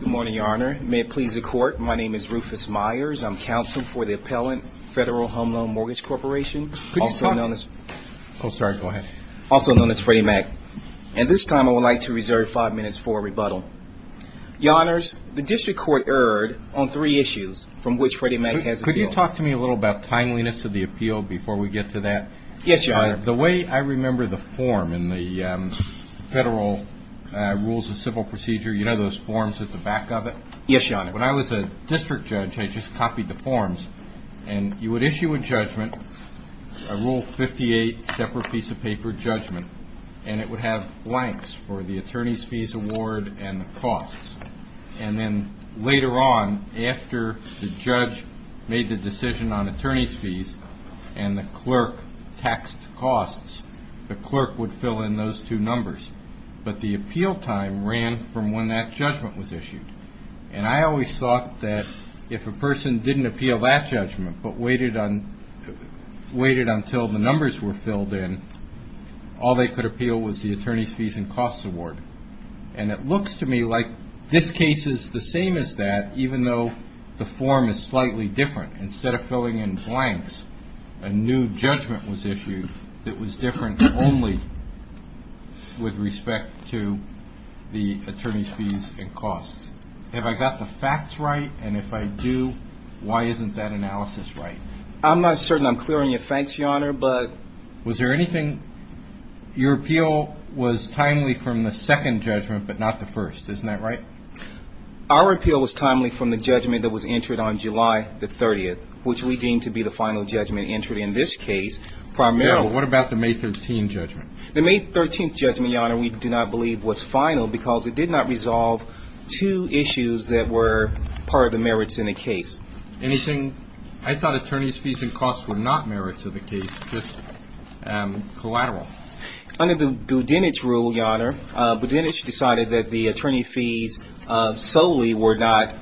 Good morning, Your Honor. May it please the Court, my name is Rufus Myers. I'm Counsel for the Appellant, Federal Home Loan Mortgage Corporation, also known as... Could you stop? Oh, sorry, go ahead. Also known as Freddie Mac. And this time I would like to reserve five minutes for a rebuttal. Your Honors, the District Court erred on three issues from which Freddie Mac has appealed. Could you talk to me a little about timeliness of the appeal before we get to that? Yes, Your Honor. The way I remember the form in the Federal Rules of Civil Procedure, you know those forms at the back of it? Yes, Your Honor. When I was a district judge, I just copied the forms. And you would issue a judgment, a Rule 58 separate piece of paper judgment. And it would have blanks for the attorney's fees award and the costs. And then later on, after the judge made the decision on attorney's fees and the clerk taxed costs, the clerk would fill in those two numbers. But the appeal time ran from when that judgment was issued. And I always thought that if a person didn't appeal that judgment but waited until the numbers were filled in, all they could appeal was the attorney's fees and costs award. And it looks to me like this case is the same as that, even though the form is slightly different. Instead of filling in blanks, a new judgment was issued that was different only with respect to the attorney's fees and costs. Have I got the facts right? And if I do, why isn't that analysis right? I'm not certain I'm clearing your fence, Your Honor. But was there anything? Your appeal was timely from the second judgment, but not the first. Isn't that right? Our appeal was timely from the judgment that was entered on July the 30th, which we deem to be the final judgment entered in this case primarily. What about the May 13 judgment? The May 13 judgment, Your Honor, we do not believe was final because it did not resolve two issues that were part of the merits in the case. Anything? I thought attorney's fees and costs were not merits of the case, just collateral. Under the Budenich rule, Your Honor, Budenich decided that the attorney fees solely were not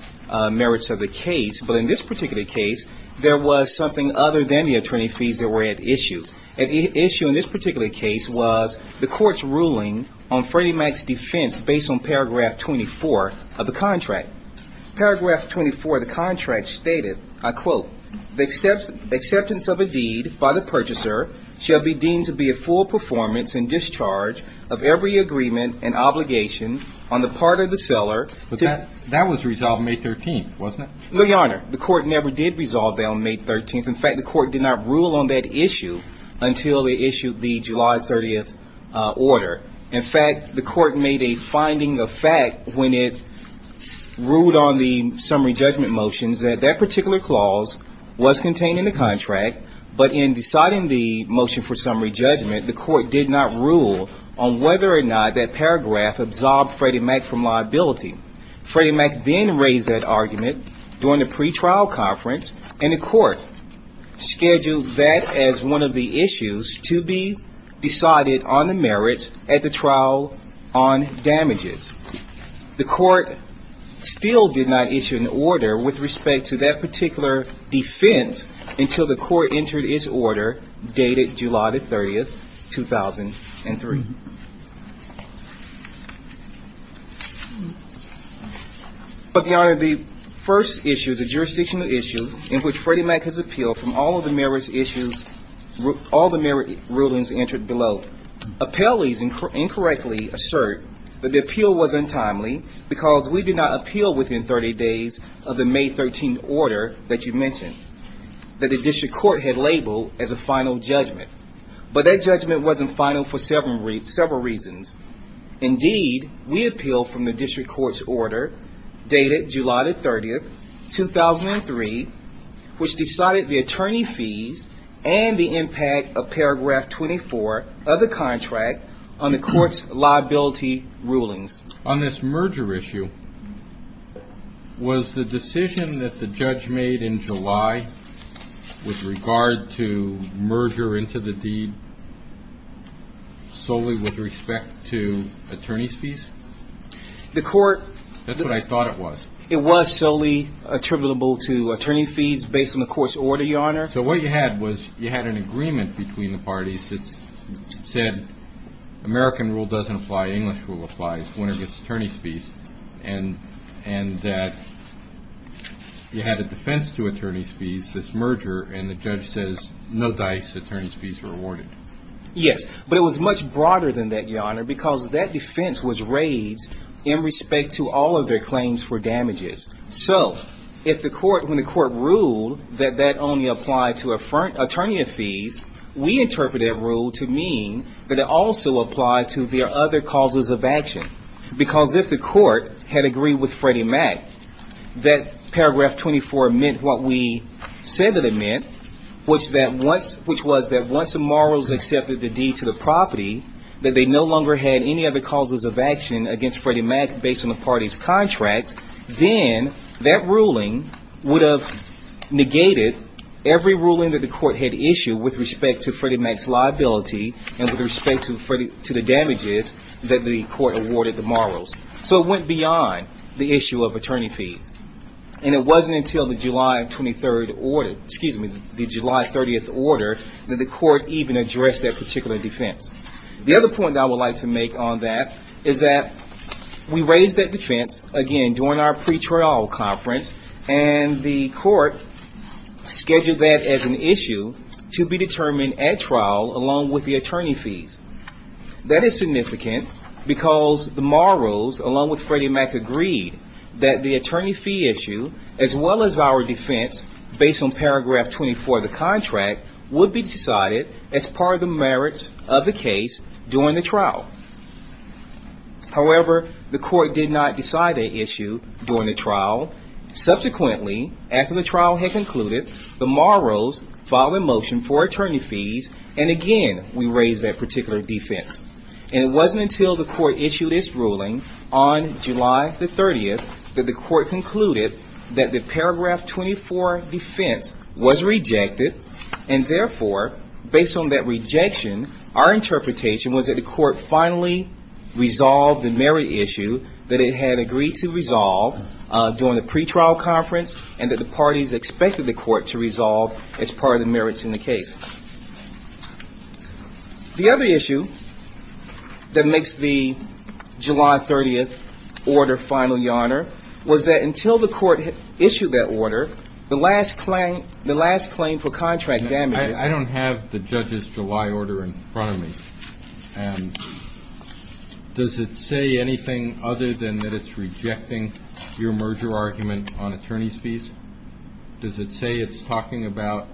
merits of the case. But in this particular case, there was something other than the attorney fees that were at issue. At issue in this particular case was the court's ruling on Freddie Mac's defense based on paragraph 24 of the contract. Paragraph 24 of the contract stated, I quote, the acceptance of a deed by the purchaser shall be deemed to be a full performance and discharge of every agreement and obligation on the part of the seller. That was resolved May 13th, wasn't it? No, Your Honor. The court never did resolve that on May 13th. In fact, the court did not rule on that issue until they issued the July 30th order. In fact, the court made a finding of fact when it ruled on the summary judgment motions that that particular clause was contained in the contract. But in deciding the motion for summary judgment, the court did not rule on whether or not that paragraph absorbed Freddie Mac from liability. Freddie Mac then raised that argument during the pretrial conference, and the court scheduled that as one of the issues to be decided on the merits at the trial on damages. The court still did not issue an order with respect to that particular defense until the court entered its order dated July 30th, 2003. But Your Honor, the first issue is a jurisdictional issue in which Freddie Mac has appealed from all of the merits issues, all the merits rulings entered below. Appellees incorrectly assert that the appeal was untimely because we did not appeal within 30 days of the May 13th order that you mentioned that the district court had labeled as a final judgment. But that judgment wasn't final for several reasons. Indeed, we appealed from the district court's order dated July 30th, 2003, which decided the attorney fees and the impact of paragraph 24 of the contract on the court's liability rulings. On this merger issue, was the decision that the judge made in July with regard to merger into the deed solely with respect to attorney's fees? The court... That's what I thought it was. It was solely attributable to attorney fees based on the court's order, Your Honor. So what you had was you had an agreement between the parties that said American rule doesn't apply, English rule applies whenever it's attorney's fees. And that you had a defense to attorney's fees, this merger, and the judge says no dice, attorney's fees are awarded. Yes, but it was much broader than that, Your Honor, because that defense was raised in respect to all of their claims for damages. So, if the court, when the court ruled that that only applied to attorney fees, we interpreted that rule to mean that it also applied to their other causes of action. Because if the court had agreed with Freddie Mac, that paragraph 24 meant what we said that it meant, which was that once the morals accepted the deed to the property, that they no longer had any other causes of action against Freddie Mac based on the party's contract, then that ruling would have negated every ruling that the court had issued with respect to Freddie Mac's liability and with respect to the damages that the court awarded the morals. So it went beyond the issue of attorney fees. And it wasn't until the July 23rd order, excuse me, the July 30th order that the court even addressed that particular defense. The other point I would like to make on that is that we raised that defense, again, during our pre-trial conference, and the court scheduled that as an issue to be determined at trial along with the attorney fees. That is significant because the morals, along with Freddie Mac, agreed that the attorney fee issue, as well as our defense based on paragraph 24 of the contract, would be decided as part of the merits of the case during the trial. However, the court did not decide that issue during the trial. Subsequently, after the trial had concluded, the morals filed a motion for attorney fees, and again, we raised that particular defense. And it wasn't until the court issued its ruling on July the 30th that the court concluded that the paragraph 24 defense was rejected. And therefore, based on that rejection, our interpretation was that the court finally resolved the merit issue that it had agreed to resolve during the pre-trial conference and that the parties expected the court to resolve as part of the merits in the case. The other issue that makes the July 30th order final yarner was that until the court issued that order, the last claim for contract damage. I don't have the judge's July order in front of me, and does it say anything other than that it's rejecting your merger argument on attorney's fees? Does it say it's talking about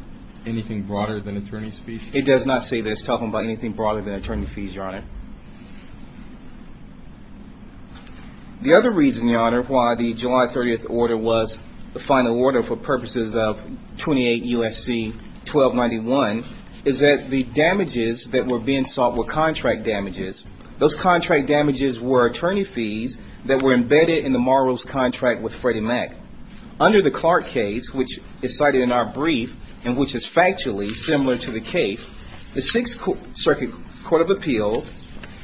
anything broader than attorney's fees? It does not say that it's talking about anything broader than attorney fees, your honor. The other reason, your honor, why the July 30th order was the final order for purposes of 28 U.S.C. 1291 is that the damages that were being sought were contract damages. Those contract damages were attorney fees that were embedded in the morals contract with Freddie Mac. Under the Clark case, which is cited in our brief and which is factually similar to the case, the Sixth Circuit Court of Appeals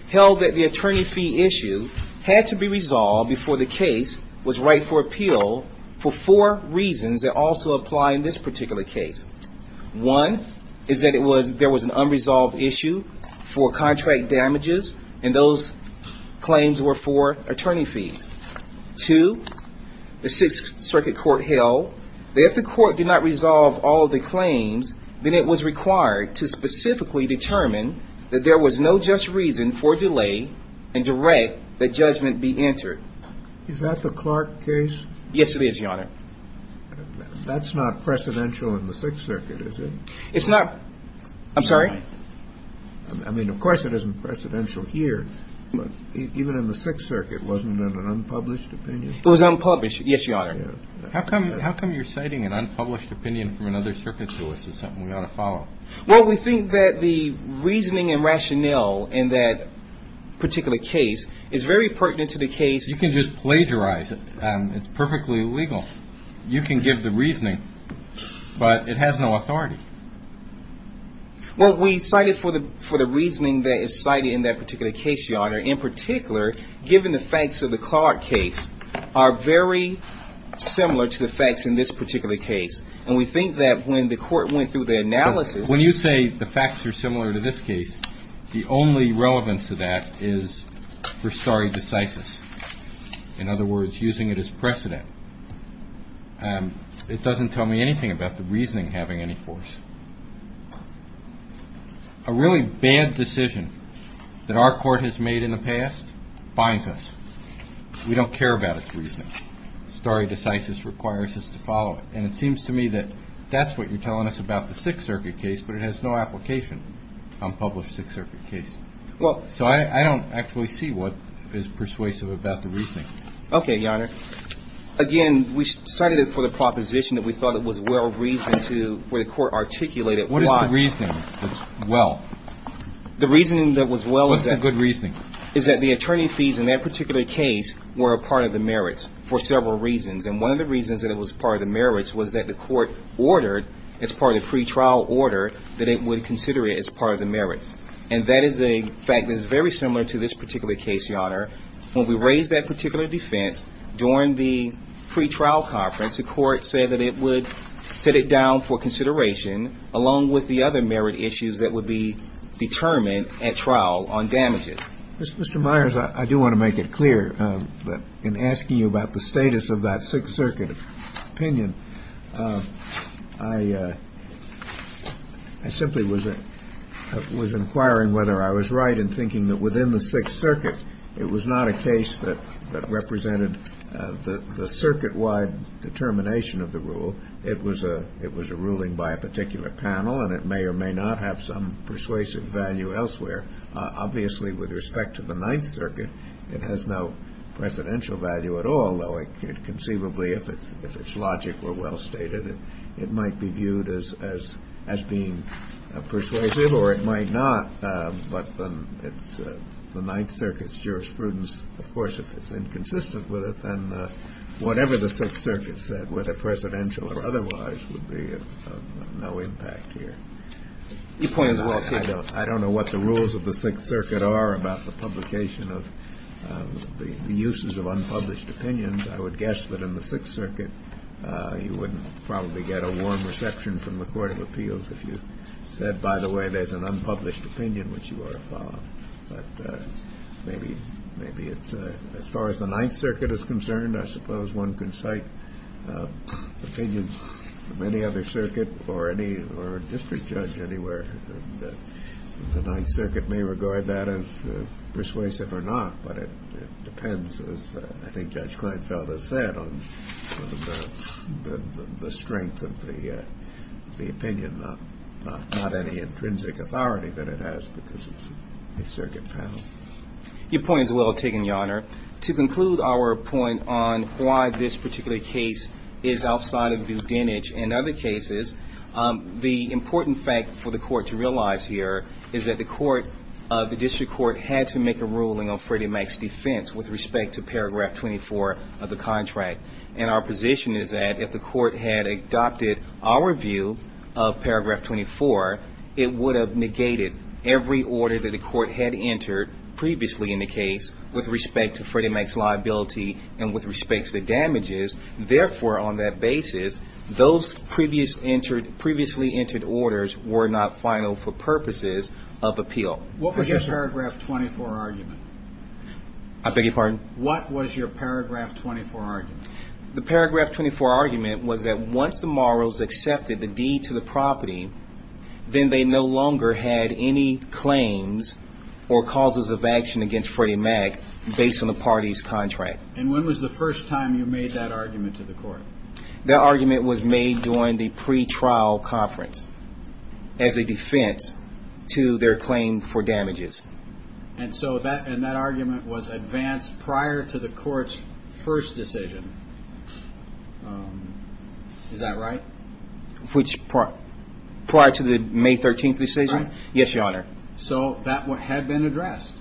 held that the attorney fee issue had to be resolved before the case was right for appeal for four reasons that also apply in this particular case. One is that there was an unresolved issue for contract damages, and those claims were for attorney fees. Two, the Sixth Circuit Court held that if the court did not resolve all the claims, then it was required to specifically determine that there was no just reason for delay and direct that judgment be entered. Is that the Clark case? Yes, it is, your honor. That's not precedential in the Sixth Circuit, is it? It's not. I'm sorry? I mean, of course it isn't precedential here, but even in the Sixth Circuit, wasn't it an unpublished opinion? It was unpublished, yes, your honor. How come you're citing an unpublished opinion from another circuit to us as something we ought to follow? Well, we think that the reasoning and rationale in that particular case is very pertinent to the case. You can just plagiarize it. It's perfectly legal. You can give the reasoning, but it has no authority. Well, we cite it for the reasoning that is cited in that particular case, your honor. In particular, given the facts of the Clark case are very similar to the facts in this particular case. And we think that when the court went through the analysis. When you say the facts are similar to this case, the only relevance to that is for stare decisis. In other words, using it as precedent. It doesn't tell me anything about the reasoning having any force. A really bad decision that our court has made in the past binds us. We don't care about its reasoning. Stare decisis requires us to follow it. And it seems to me that that's what you're telling us about the Sixth Circuit case, but it has no application. Unpublished Sixth Circuit case. Well, so I don't actually see what is persuasive about the reasoning. Okay, your honor. Again, we cited it for the proposition that we thought it was well reasoned to where the court articulated why. What is the reasoning that's well? The reasoning that was well is that. What's the good reasoning? Is that the attorney fees in that particular case were a part of the merits for several reasons. And one of the reasons that it was part of the merits was that the court ordered, as part of the pretrial order, that it would consider it as part of the merits. And that is a fact that is very similar to this particular case, your honor. When we raised that particular defense during the pretrial conference, the court said that it would set it down for consideration, along with the other merit issues that would be determined at trial on damages. Mr. Myers, I do want to make it clear that in asking you about the status of that Sixth Circuit opinion, I simply was inquiring whether I was right in thinking that within the Sixth Circuit, it was not a case that represented the circuit-wide determination of the rule. It was a ruling by a particular panel, and it may or may not have some persuasive value elsewhere. Obviously, with respect to the Ninth Circuit, it has no presidential value at all, although conceivably, if its logic were well stated, it might be viewed as being persuasive, or it might not. But the Ninth Circuit's jurisprudence, of course, if it's inconsistent with it, then whatever the Sixth Circuit said, whether presidential or otherwise, would be of no impact here. I don't know what the rules of the Sixth Circuit are about the publication of the uses of unpublished opinions, I would guess that in the Sixth Circuit you wouldn't probably get a warm reception from the Court of Appeals if you said, by the way, there's an unpublished opinion which you ought to follow. But maybe as far as the Ninth Circuit is concerned, I suppose one can cite opinions from any other circuit or district judge anywhere. The Ninth Circuit may regard that as persuasive or not, but it depends, as I think Judge Kleinfeld has said, on the strength of the opinion, not any intrinsic authority that it has, because it's a circuit panel. Your point is well taken, Your Honor. To conclude our point on why this particular case is outside of the lineage in other cases, the important fact for the Court to realize here is that the court, the district court, had to make a ruling on Freddie Mac's defense with respect to paragraph 24 of the contract. And our position is that if the court had adopted our view of paragraph 24, it would have negated every order that the court had entered previously in the case with respect to Freddie Mac's liability and with respect to the damages. Therefore, on that basis, those previously entered orders were not final for purposes of appeal. What was your paragraph 24 argument? I beg your pardon? What was your paragraph 24 argument? The paragraph 24 argument was that once the Morros accepted the deed to the property, then they no longer had any claims or causes of action against Freddie Mac based on the party's contract. And when was the first time you made that argument to the court? That argument was made during the pretrial conference as a defense to their claim for damages. And that argument was advanced prior to the court's first decision. Is that right? Prior to the May 13th decision? Yes, Your Honor. So that had been addressed.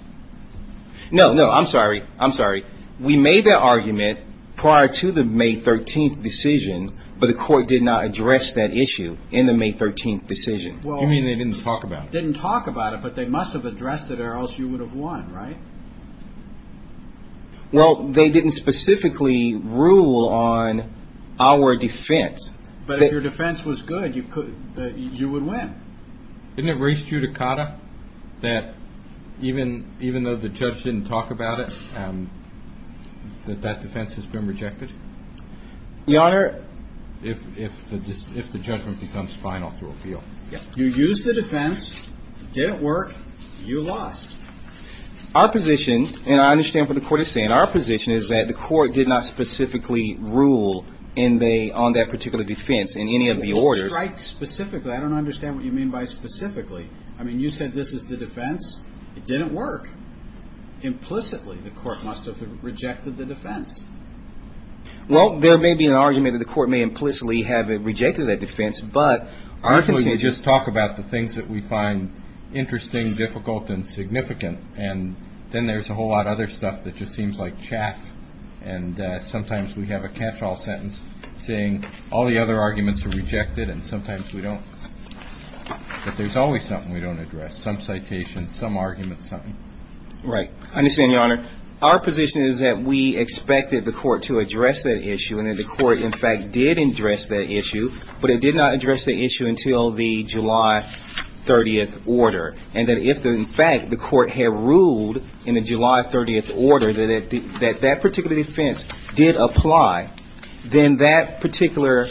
No, no. I'm sorry. I'm sorry. We made that argument prior to the May 13th decision, but the court did not address that issue in the May 13th decision. You mean they didn't talk about it? Didn't talk about it, but they must have addressed it or else you would have won, right? Well, they didn't specifically rule on our defense. But if your defense was good, you would win. Didn't it raise judicata that even though the judge didn't talk about it, that that defense has been rejected? Your Honor? If the judgment becomes final through appeal. You used the defense, it didn't work, you lost. Our position, and I understand what the court is saying, our position is that the court did not specifically rule on that particular defense in any of the orders. I don't understand what you mean by specifically. I mean, you said this is the defense. It didn't work. Implicitly, the court must have rejected the defense. Well, there may be an argument that the court may implicitly have rejected that defense. Actually, we just talk about the things that we find interesting, difficult, and significant, and then there's a whole lot of other stuff that just seems like chaff. And sometimes we have a catch-all sentence saying all the other arguments are rejected, and sometimes we don't. But there's always something we don't address, some citation, some argument, something. Right. I understand, Your Honor. Our position is that we expected the court to address that issue, and that the court, in fact, did address that issue, but it did not address the issue until the July 30th order. And that if, in fact, the court had ruled in the July 30th order that that particular defense did apply, then that particular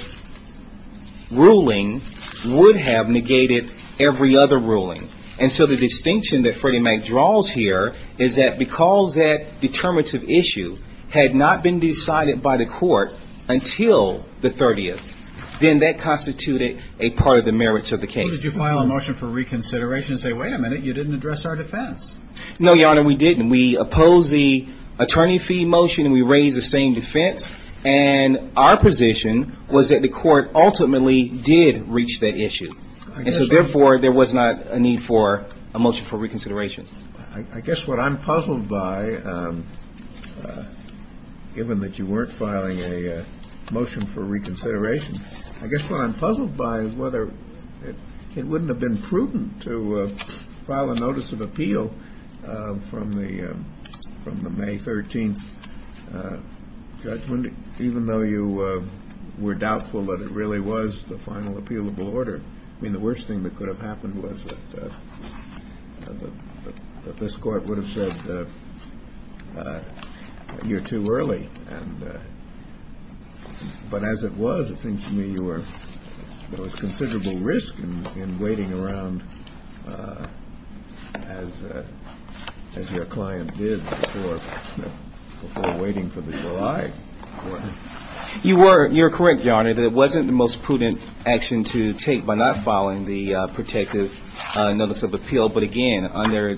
ruling would have negated every other ruling. And so the distinction that Freddie Mac draws here is that because that determinative issue had not been decided by the court until the 30th, then that constituted a part of the merits of the case. So why did you file a motion for reconsideration and say, wait a minute, you didn't address our defense? No, Your Honor, we didn't. We opposed the attorney fee motion and we raised the same defense, and our position was that the court ultimately did reach that issue. And so, therefore, there was not a need for a motion for reconsideration. I guess what I'm puzzled by, given that you weren't filing a motion for reconsideration, I guess what I'm puzzled by is whether it wouldn't have been prudent to file a notice of appeal from the May 13th judgment, even though you were doubtful that it really was the final appealable order. I mean, the worst thing that could have happened was that this court would have said, you're too early. But as it was, it seems to me there was considerable risk in waiting around as your client did before waiting for the July court. You're correct, Your Honor, that it wasn't the most prudent action to take by not filing the protective notice of appeal. But again, under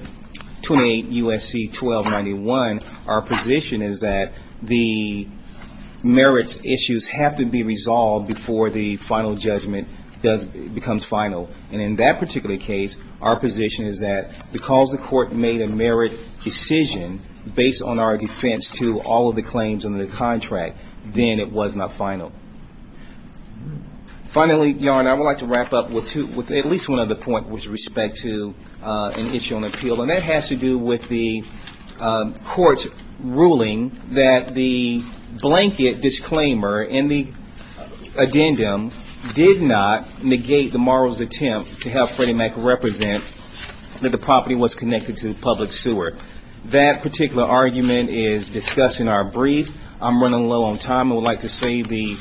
28 U.S.C. 1291, our position is that the merits issues have to be resolved before the final judgment becomes final. And in that particular case, our position is that because the court made a merit decision based on our defense to all of the claims under the contract, then it was not final. Finally, Your Honor, I would like to wrap up with at least one other point with respect to an issue on appeal, and that has to do with the court's ruling that the blanket disclaimer in the addendum did not negate the moral's attempt to have Freddie Mac represent that the property was connected to a public sewer. That particular argument is discussed in our brief. I'm running low on time. I would like to save the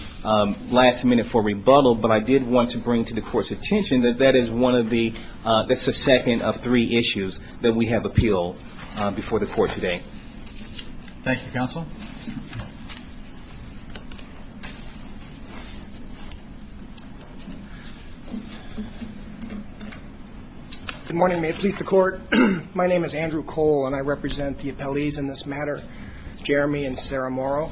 last minute for rebuttal, but I did want to bring to the court's attention that that is one of the second of three issues that we have appealed before the court today. Thank you, Counsel. Good morning. May it please the court. My name is Andrew Cole, and I represent the appellees in this matter, Jeremy and Sarah Morrow.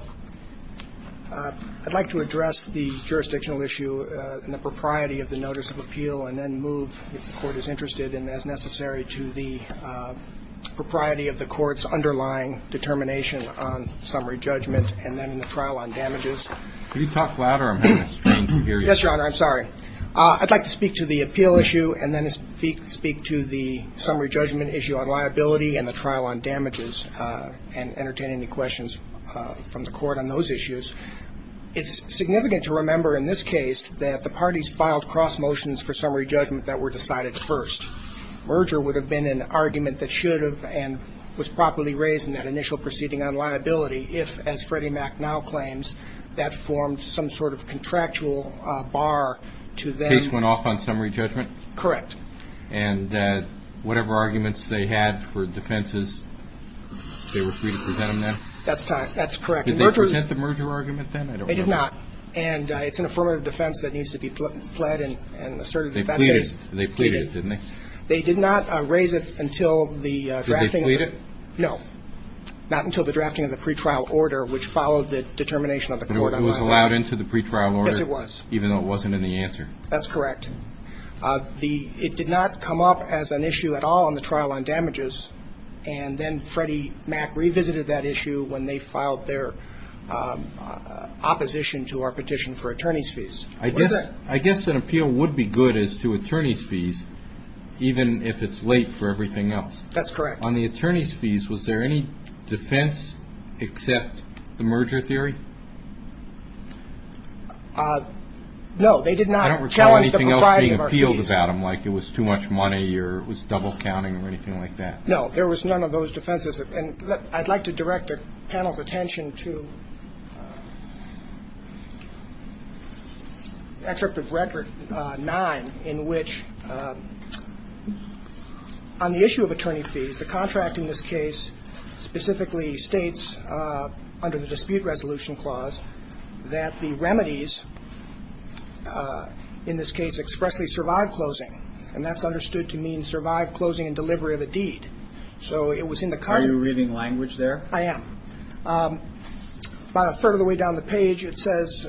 I'd like to address the jurisdictional issue and the propriety of the notice of appeal and then move, if the court is interested and as necessary, to the propriety of the court's underlying determination on summary judgment and then the trial on damages. Could you talk louder? I'm having a strain to hear you. Yes, Your Honor. I'm sorry. I'd like to speak to the appeal issue and then speak to the summary judgment issue on liability and the trial on damages and entertain any questions from the court on those issues. It's significant to remember in this case that the parties filed cross motions for summary judgment that were decided first. Merger would have been an argument that should have and was properly raised in that initial proceeding on liability if, as Freddie Mac now claims, that formed some sort of contractual bar to them. The case went off on summary judgment? Correct. And whatever arguments they had for defenses, they were free to present them then? That's correct. Did they present the merger argument then? I don't remember. They did not. And it's an affirmative defense that needs to be pled and asserted in that case. They pleaded. They pleaded, didn't they? They did not raise it until the drafting of the pre-trial order, which followed the determination of the court on liability. It was allowed into the pre-trial order? Yes, it was. Even though it wasn't in the answer? That's correct. It did not come up as an issue at all in the trial on damages, and then Freddie Mac revisited that issue when they filed their opposition to our petition for attorney's fees. I guess an appeal would be good as to attorney's fees, even if it's late for everything else. That's correct. On the attorney's fees, was there any defense except the merger theory? No, they did not challenge the propriety of our fees. I don't recall anything else being appealed about them, like it was too much money or it was double counting or anything like that. No, there was none of those defenses. And I'd like to direct the panel's attention to Interpretive Record 9, in which on the issue of attorney's fees, the contract in this case specifically states under the dispute resolution clause that the remedies in this case expressly survive closing, and that's understood to mean survive closing and delivery of a deed. So it was in the card. Are you reading language there? I am. This is about a third of the way down the page. It says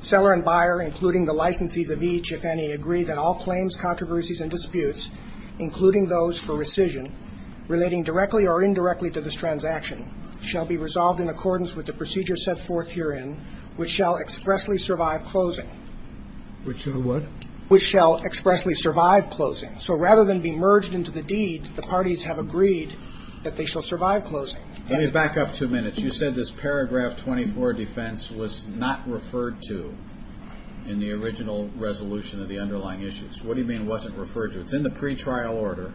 seller and buyer, including the licensees of each, if any, agree that all claims, controversies and disputes, including those for rescission, relating directly or indirectly to this transaction, shall be resolved in accordance with the procedure set forth herein, which shall expressly survive closing. Which in what? Which shall expressly survive closing. So rather than be merged into the deed, the parties have agreed that they shall survive closing. Let me back up two minutes. You said this paragraph 24 defense was not referred to in the original resolution of the underlying issues. What do you mean wasn't referred to? It's in the pretrial order.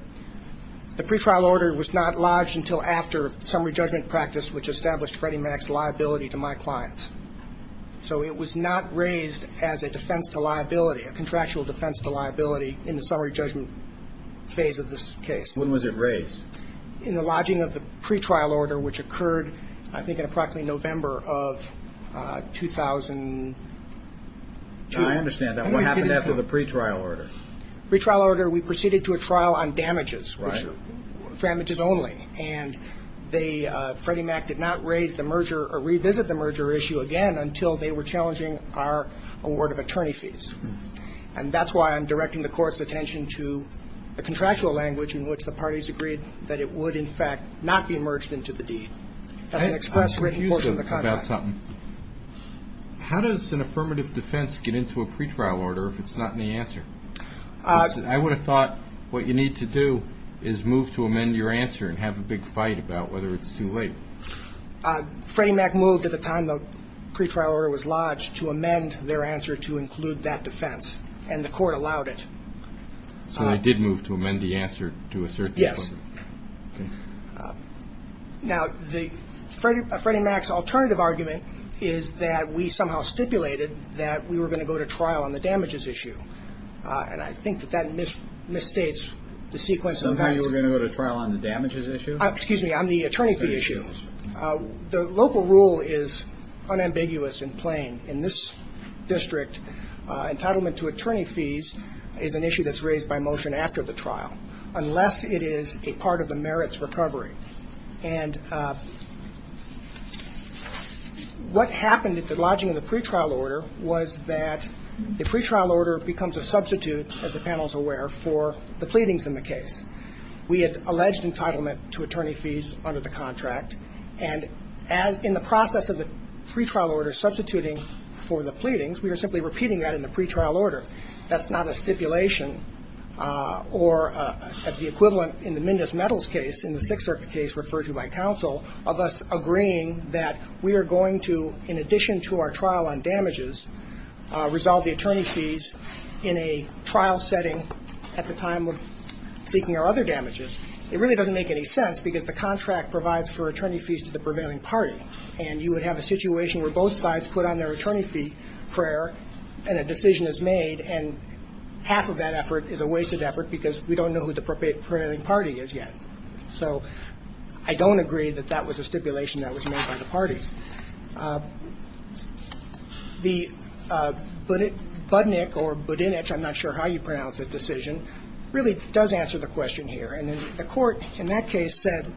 The pretrial order was not lodged until after summary judgment practice, which established Freddie Mac's liability to my clients. So it was not raised as a defense to liability, a contractual defense to liability in the summary judgment phase of this case. When was it raised? In the lodging of the pretrial order, which occurred, I think, in approximately November of 2002. I understand that. What happened after the pretrial order? Pretrial order, we proceeded to a trial on damages, damages only, and Freddie Mac did not raise the merger or revisit the merger issue again until they were challenging our award of attorney fees. And that's why I'm directing the Court's attention to the contractual language in which the parties agreed that it would, in fact, not be merged into the deed. That's an express written quote from the contract. I'm confused about something. How does an affirmative defense get into a pretrial order if it's not in the answer? I would have thought what you need to do is move to amend your answer and have a big fight about whether it's too late. Freddie Mac moved at the time the pretrial order was lodged to amend their answer to include that defense, and the Court allowed it. So they did move to amend the answer to assert the claim? Yes. Now, Freddie Mac's alternative argument is that we somehow stipulated that we were going to go to trial on the damages issue, and I think that that misstates the sequence of events. Somehow you were going to go to trial on the damages issue? Excuse me, on the attorney fee issue. The local rule is unambiguous and plain. In this district, entitlement to attorney fees is an issue that's raised by motion after the trial, unless it is a part of the merits recovery. And what happened at the lodging of the pretrial order was that the pretrial order becomes a substitute, as the panel is aware, for the pleadings in the case. We had alleged entitlement to attorney fees under the contract, and as in the process of the pretrial order substituting for the pleadings, we were simply repeating that in the pretrial order. That's not a stipulation or the equivalent in the Mendez-Mettles case, in the Sixth Circuit case referred to by counsel, of us agreeing that we are going to, in addition to our trial on damages, resolve the attorney fees in a trial setting at the time of seeking our other damages. It really doesn't make any sense because the contract provides for attorney fees to the prevailing party, and you would have a situation where both sides put on their attorney fee prayer and a decision is made, and half of that effort is a wasted effort because we don't know who the prevailing party is yet. So I don't agree that that was a stipulation that was made by the parties. The Budnick or Budinich, I'm not sure how you pronounce that decision, really does answer the question here. And the court in that case said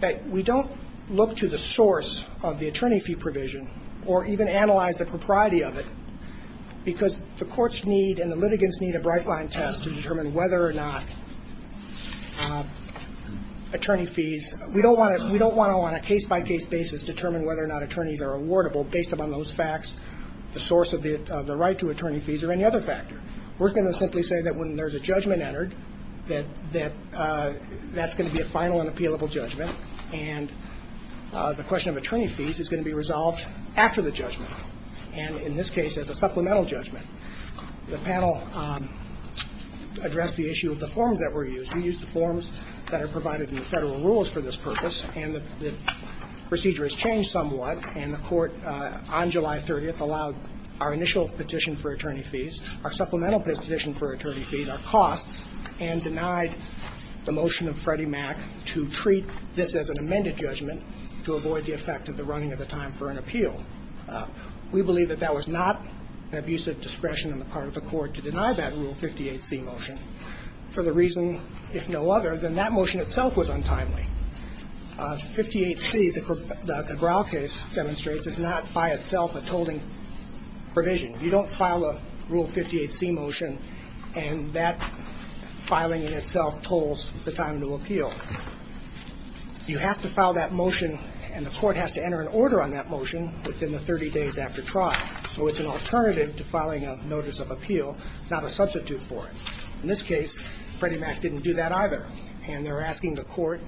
that we don't look to the source of the attorney fee provision or even analyze the propriety of it because the courts need and the litigants need a bright-line test to determine whether or not attorney fees. We don't want to, on a case-by-case basis, determine whether or not attorneys are awardable based upon those facts, the source of the right to attorney fees, or any other factor. We're going to simply say that when there's a judgment entered, that that's going to be a final and appealable judgment, and the question of attorney fees is going to be resolved after the judgment, and in this case, as a supplemental judgment. The panel addressed the issue of the forms that were used. We used the forms that are provided in the Federal rules for this purpose, and the procedure has changed somewhat. And the Court on July 30th allowed our initial petition for attorney fees, our supplemental petition for attorney fees, our costs, and denied the motion of Freddie Mac to treat this as an amended judgment to avoid the effect of the running of the time for an appeal. We believe that that was not an abusive discretion on the part of the Court to deny that Rule 58C motion for the reason, if no other, that that motion itself was untimely. 58C, the Cabral case demonstrates, is not by itself a tolling provision. You don't file a Rule 58C motion, and that filing in itself tolls the time to appeal. You have to file that motion, and the Court has to enter an order on that motion within the 30 days after trial. So it's an alternative to filing a notice of appeal, not a substitute for it. In this case, Freddie Mac didn't do that either, and they're asking the Court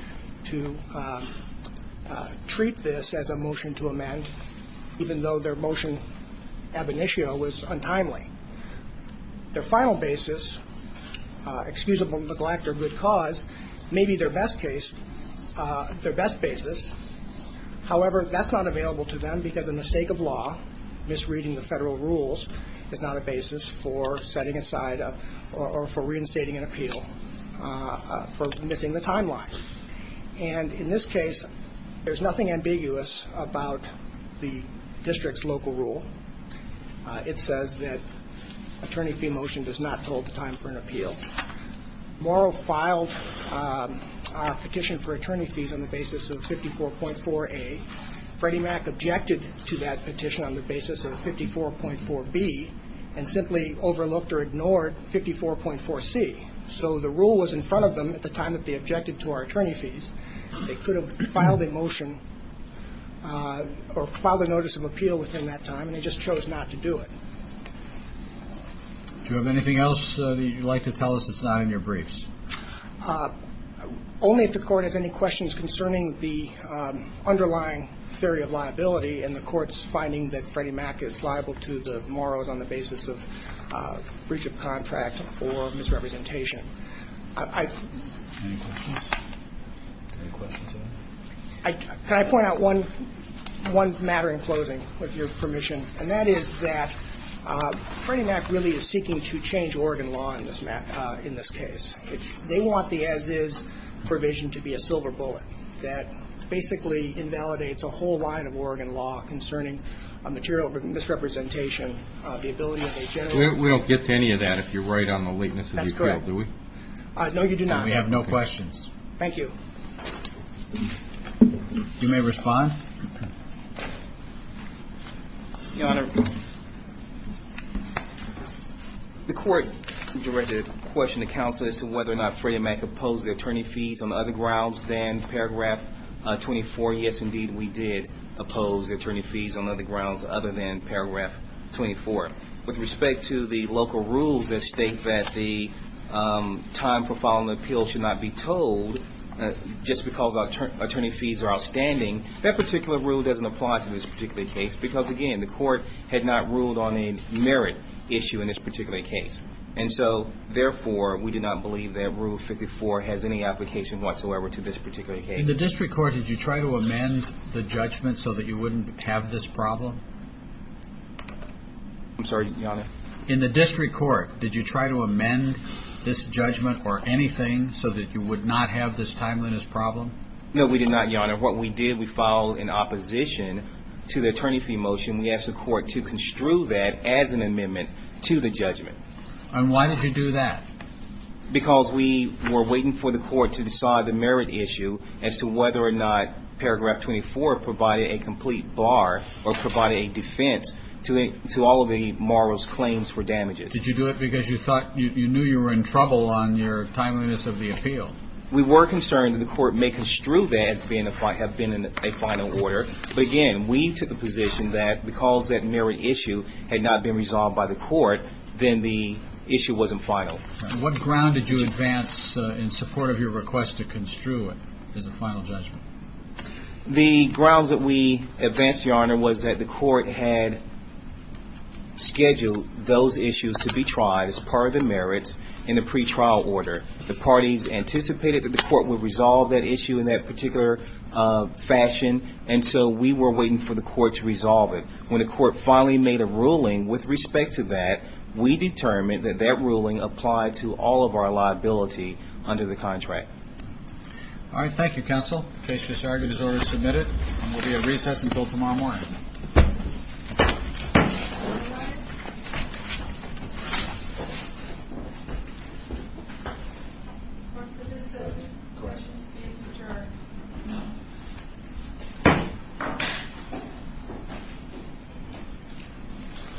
to treat this as a motion to amend, even though their motion ab initio was untimely. Their final basis, excusable neglect or good cause, may be their best case, their best basis. However, that's not available to them because a mistake of law, misreading the Federal rules is not a basis for setting aside or for reinstating an appeal. For missing the timeline. And in this case, there's nothing ambiguous about the district's local rule. It says that attorney fee motion does not toll the time for an appeal. Morrow filed a petition for attorney fees on the basis of 54.4A. Freddie Mac objected to that petition on the basis of 54.4B and simply overlooked or ignored 54.4C. So the rule was in front of them at the time that they objected to our attorney fees. They could have filed a motion or filed a notice of appeal within that time, and they just chose not to do it. Do you have anything else that you'd like to tell us that's not in your briefs? Only if the Court has any questions concerning the underlying theory of liability and the Court's finding that Freddie Mac is liable to the morrows on the basis of breach of contract or misrepresentation. Any questions? Any questions? Can I point out one matter in closing, with your permission? And that is that Freddie Mac really is seeking to change Oregon law in this case. They want the as-is provision to be a silver bullet that basically invalidates a whole line of Oregon law concerning material misrepresentation, the ability of a general. We don't get to any of that if you're right on the lateness of the appeal, do we? That's correct. No, you do not. We have no questions. Thank you. You may respond. Your Honor, the Court directed a question to counsel as to whether or not Freddie Mac opposed the attorney fees on other grounds than paragraph 24. Yes, indeed, we did oppose the attorney fees on other grounds other than paragraph 24. With respect to the local rules that state that the time for filing an appeal should not be told, just because attorney fees are outstanding, that particular rule doesn't apply to this particular case because, again, the Court had not ruled on a merit issue in this particular case. And so, therefore, we do not believe that Rule 54 has any application whatsoever to this particular case. In the district court, did you try to amend the judgment so that you wouldn't have this problem? I'm sorry, Your Honor? In the district court, did you try to amend this judgment or anything so that you would not have this timeliness problem? No, we did not, Your Honor. What we did, we filed an opposition to the attorney fee motion. We asked the Court to construe that as an amendment to the judgment. And why did you do that? Because we were waiting for the Court to decide the merit issue as to whether or not paragraph 24 provided a complete bar or provided a defense to all of the morose claims for damages. Did you do it because you thought you knew you were in trouble on your timeliness of the appeal? We were concerned that the Court may construe that as being a final order. But, again, we took a position that because that merit issue had not been resolved by the Court, then the issue wasn't final. What ground did you advance in support of your request to construe it as a final judgment? The grounds that we advanced, Your Honor, was that the Court had scheduled those issues to be tried as part of the merits in the pretrial order. The parties anticipated that the Court would resolve that issue in that particular fashion. And so we were waiting for the Court to resolve it. When the Court finally made a ruling with respect to that, we determined that that ruling applied to all of our liability under the contract. All right. Thank you.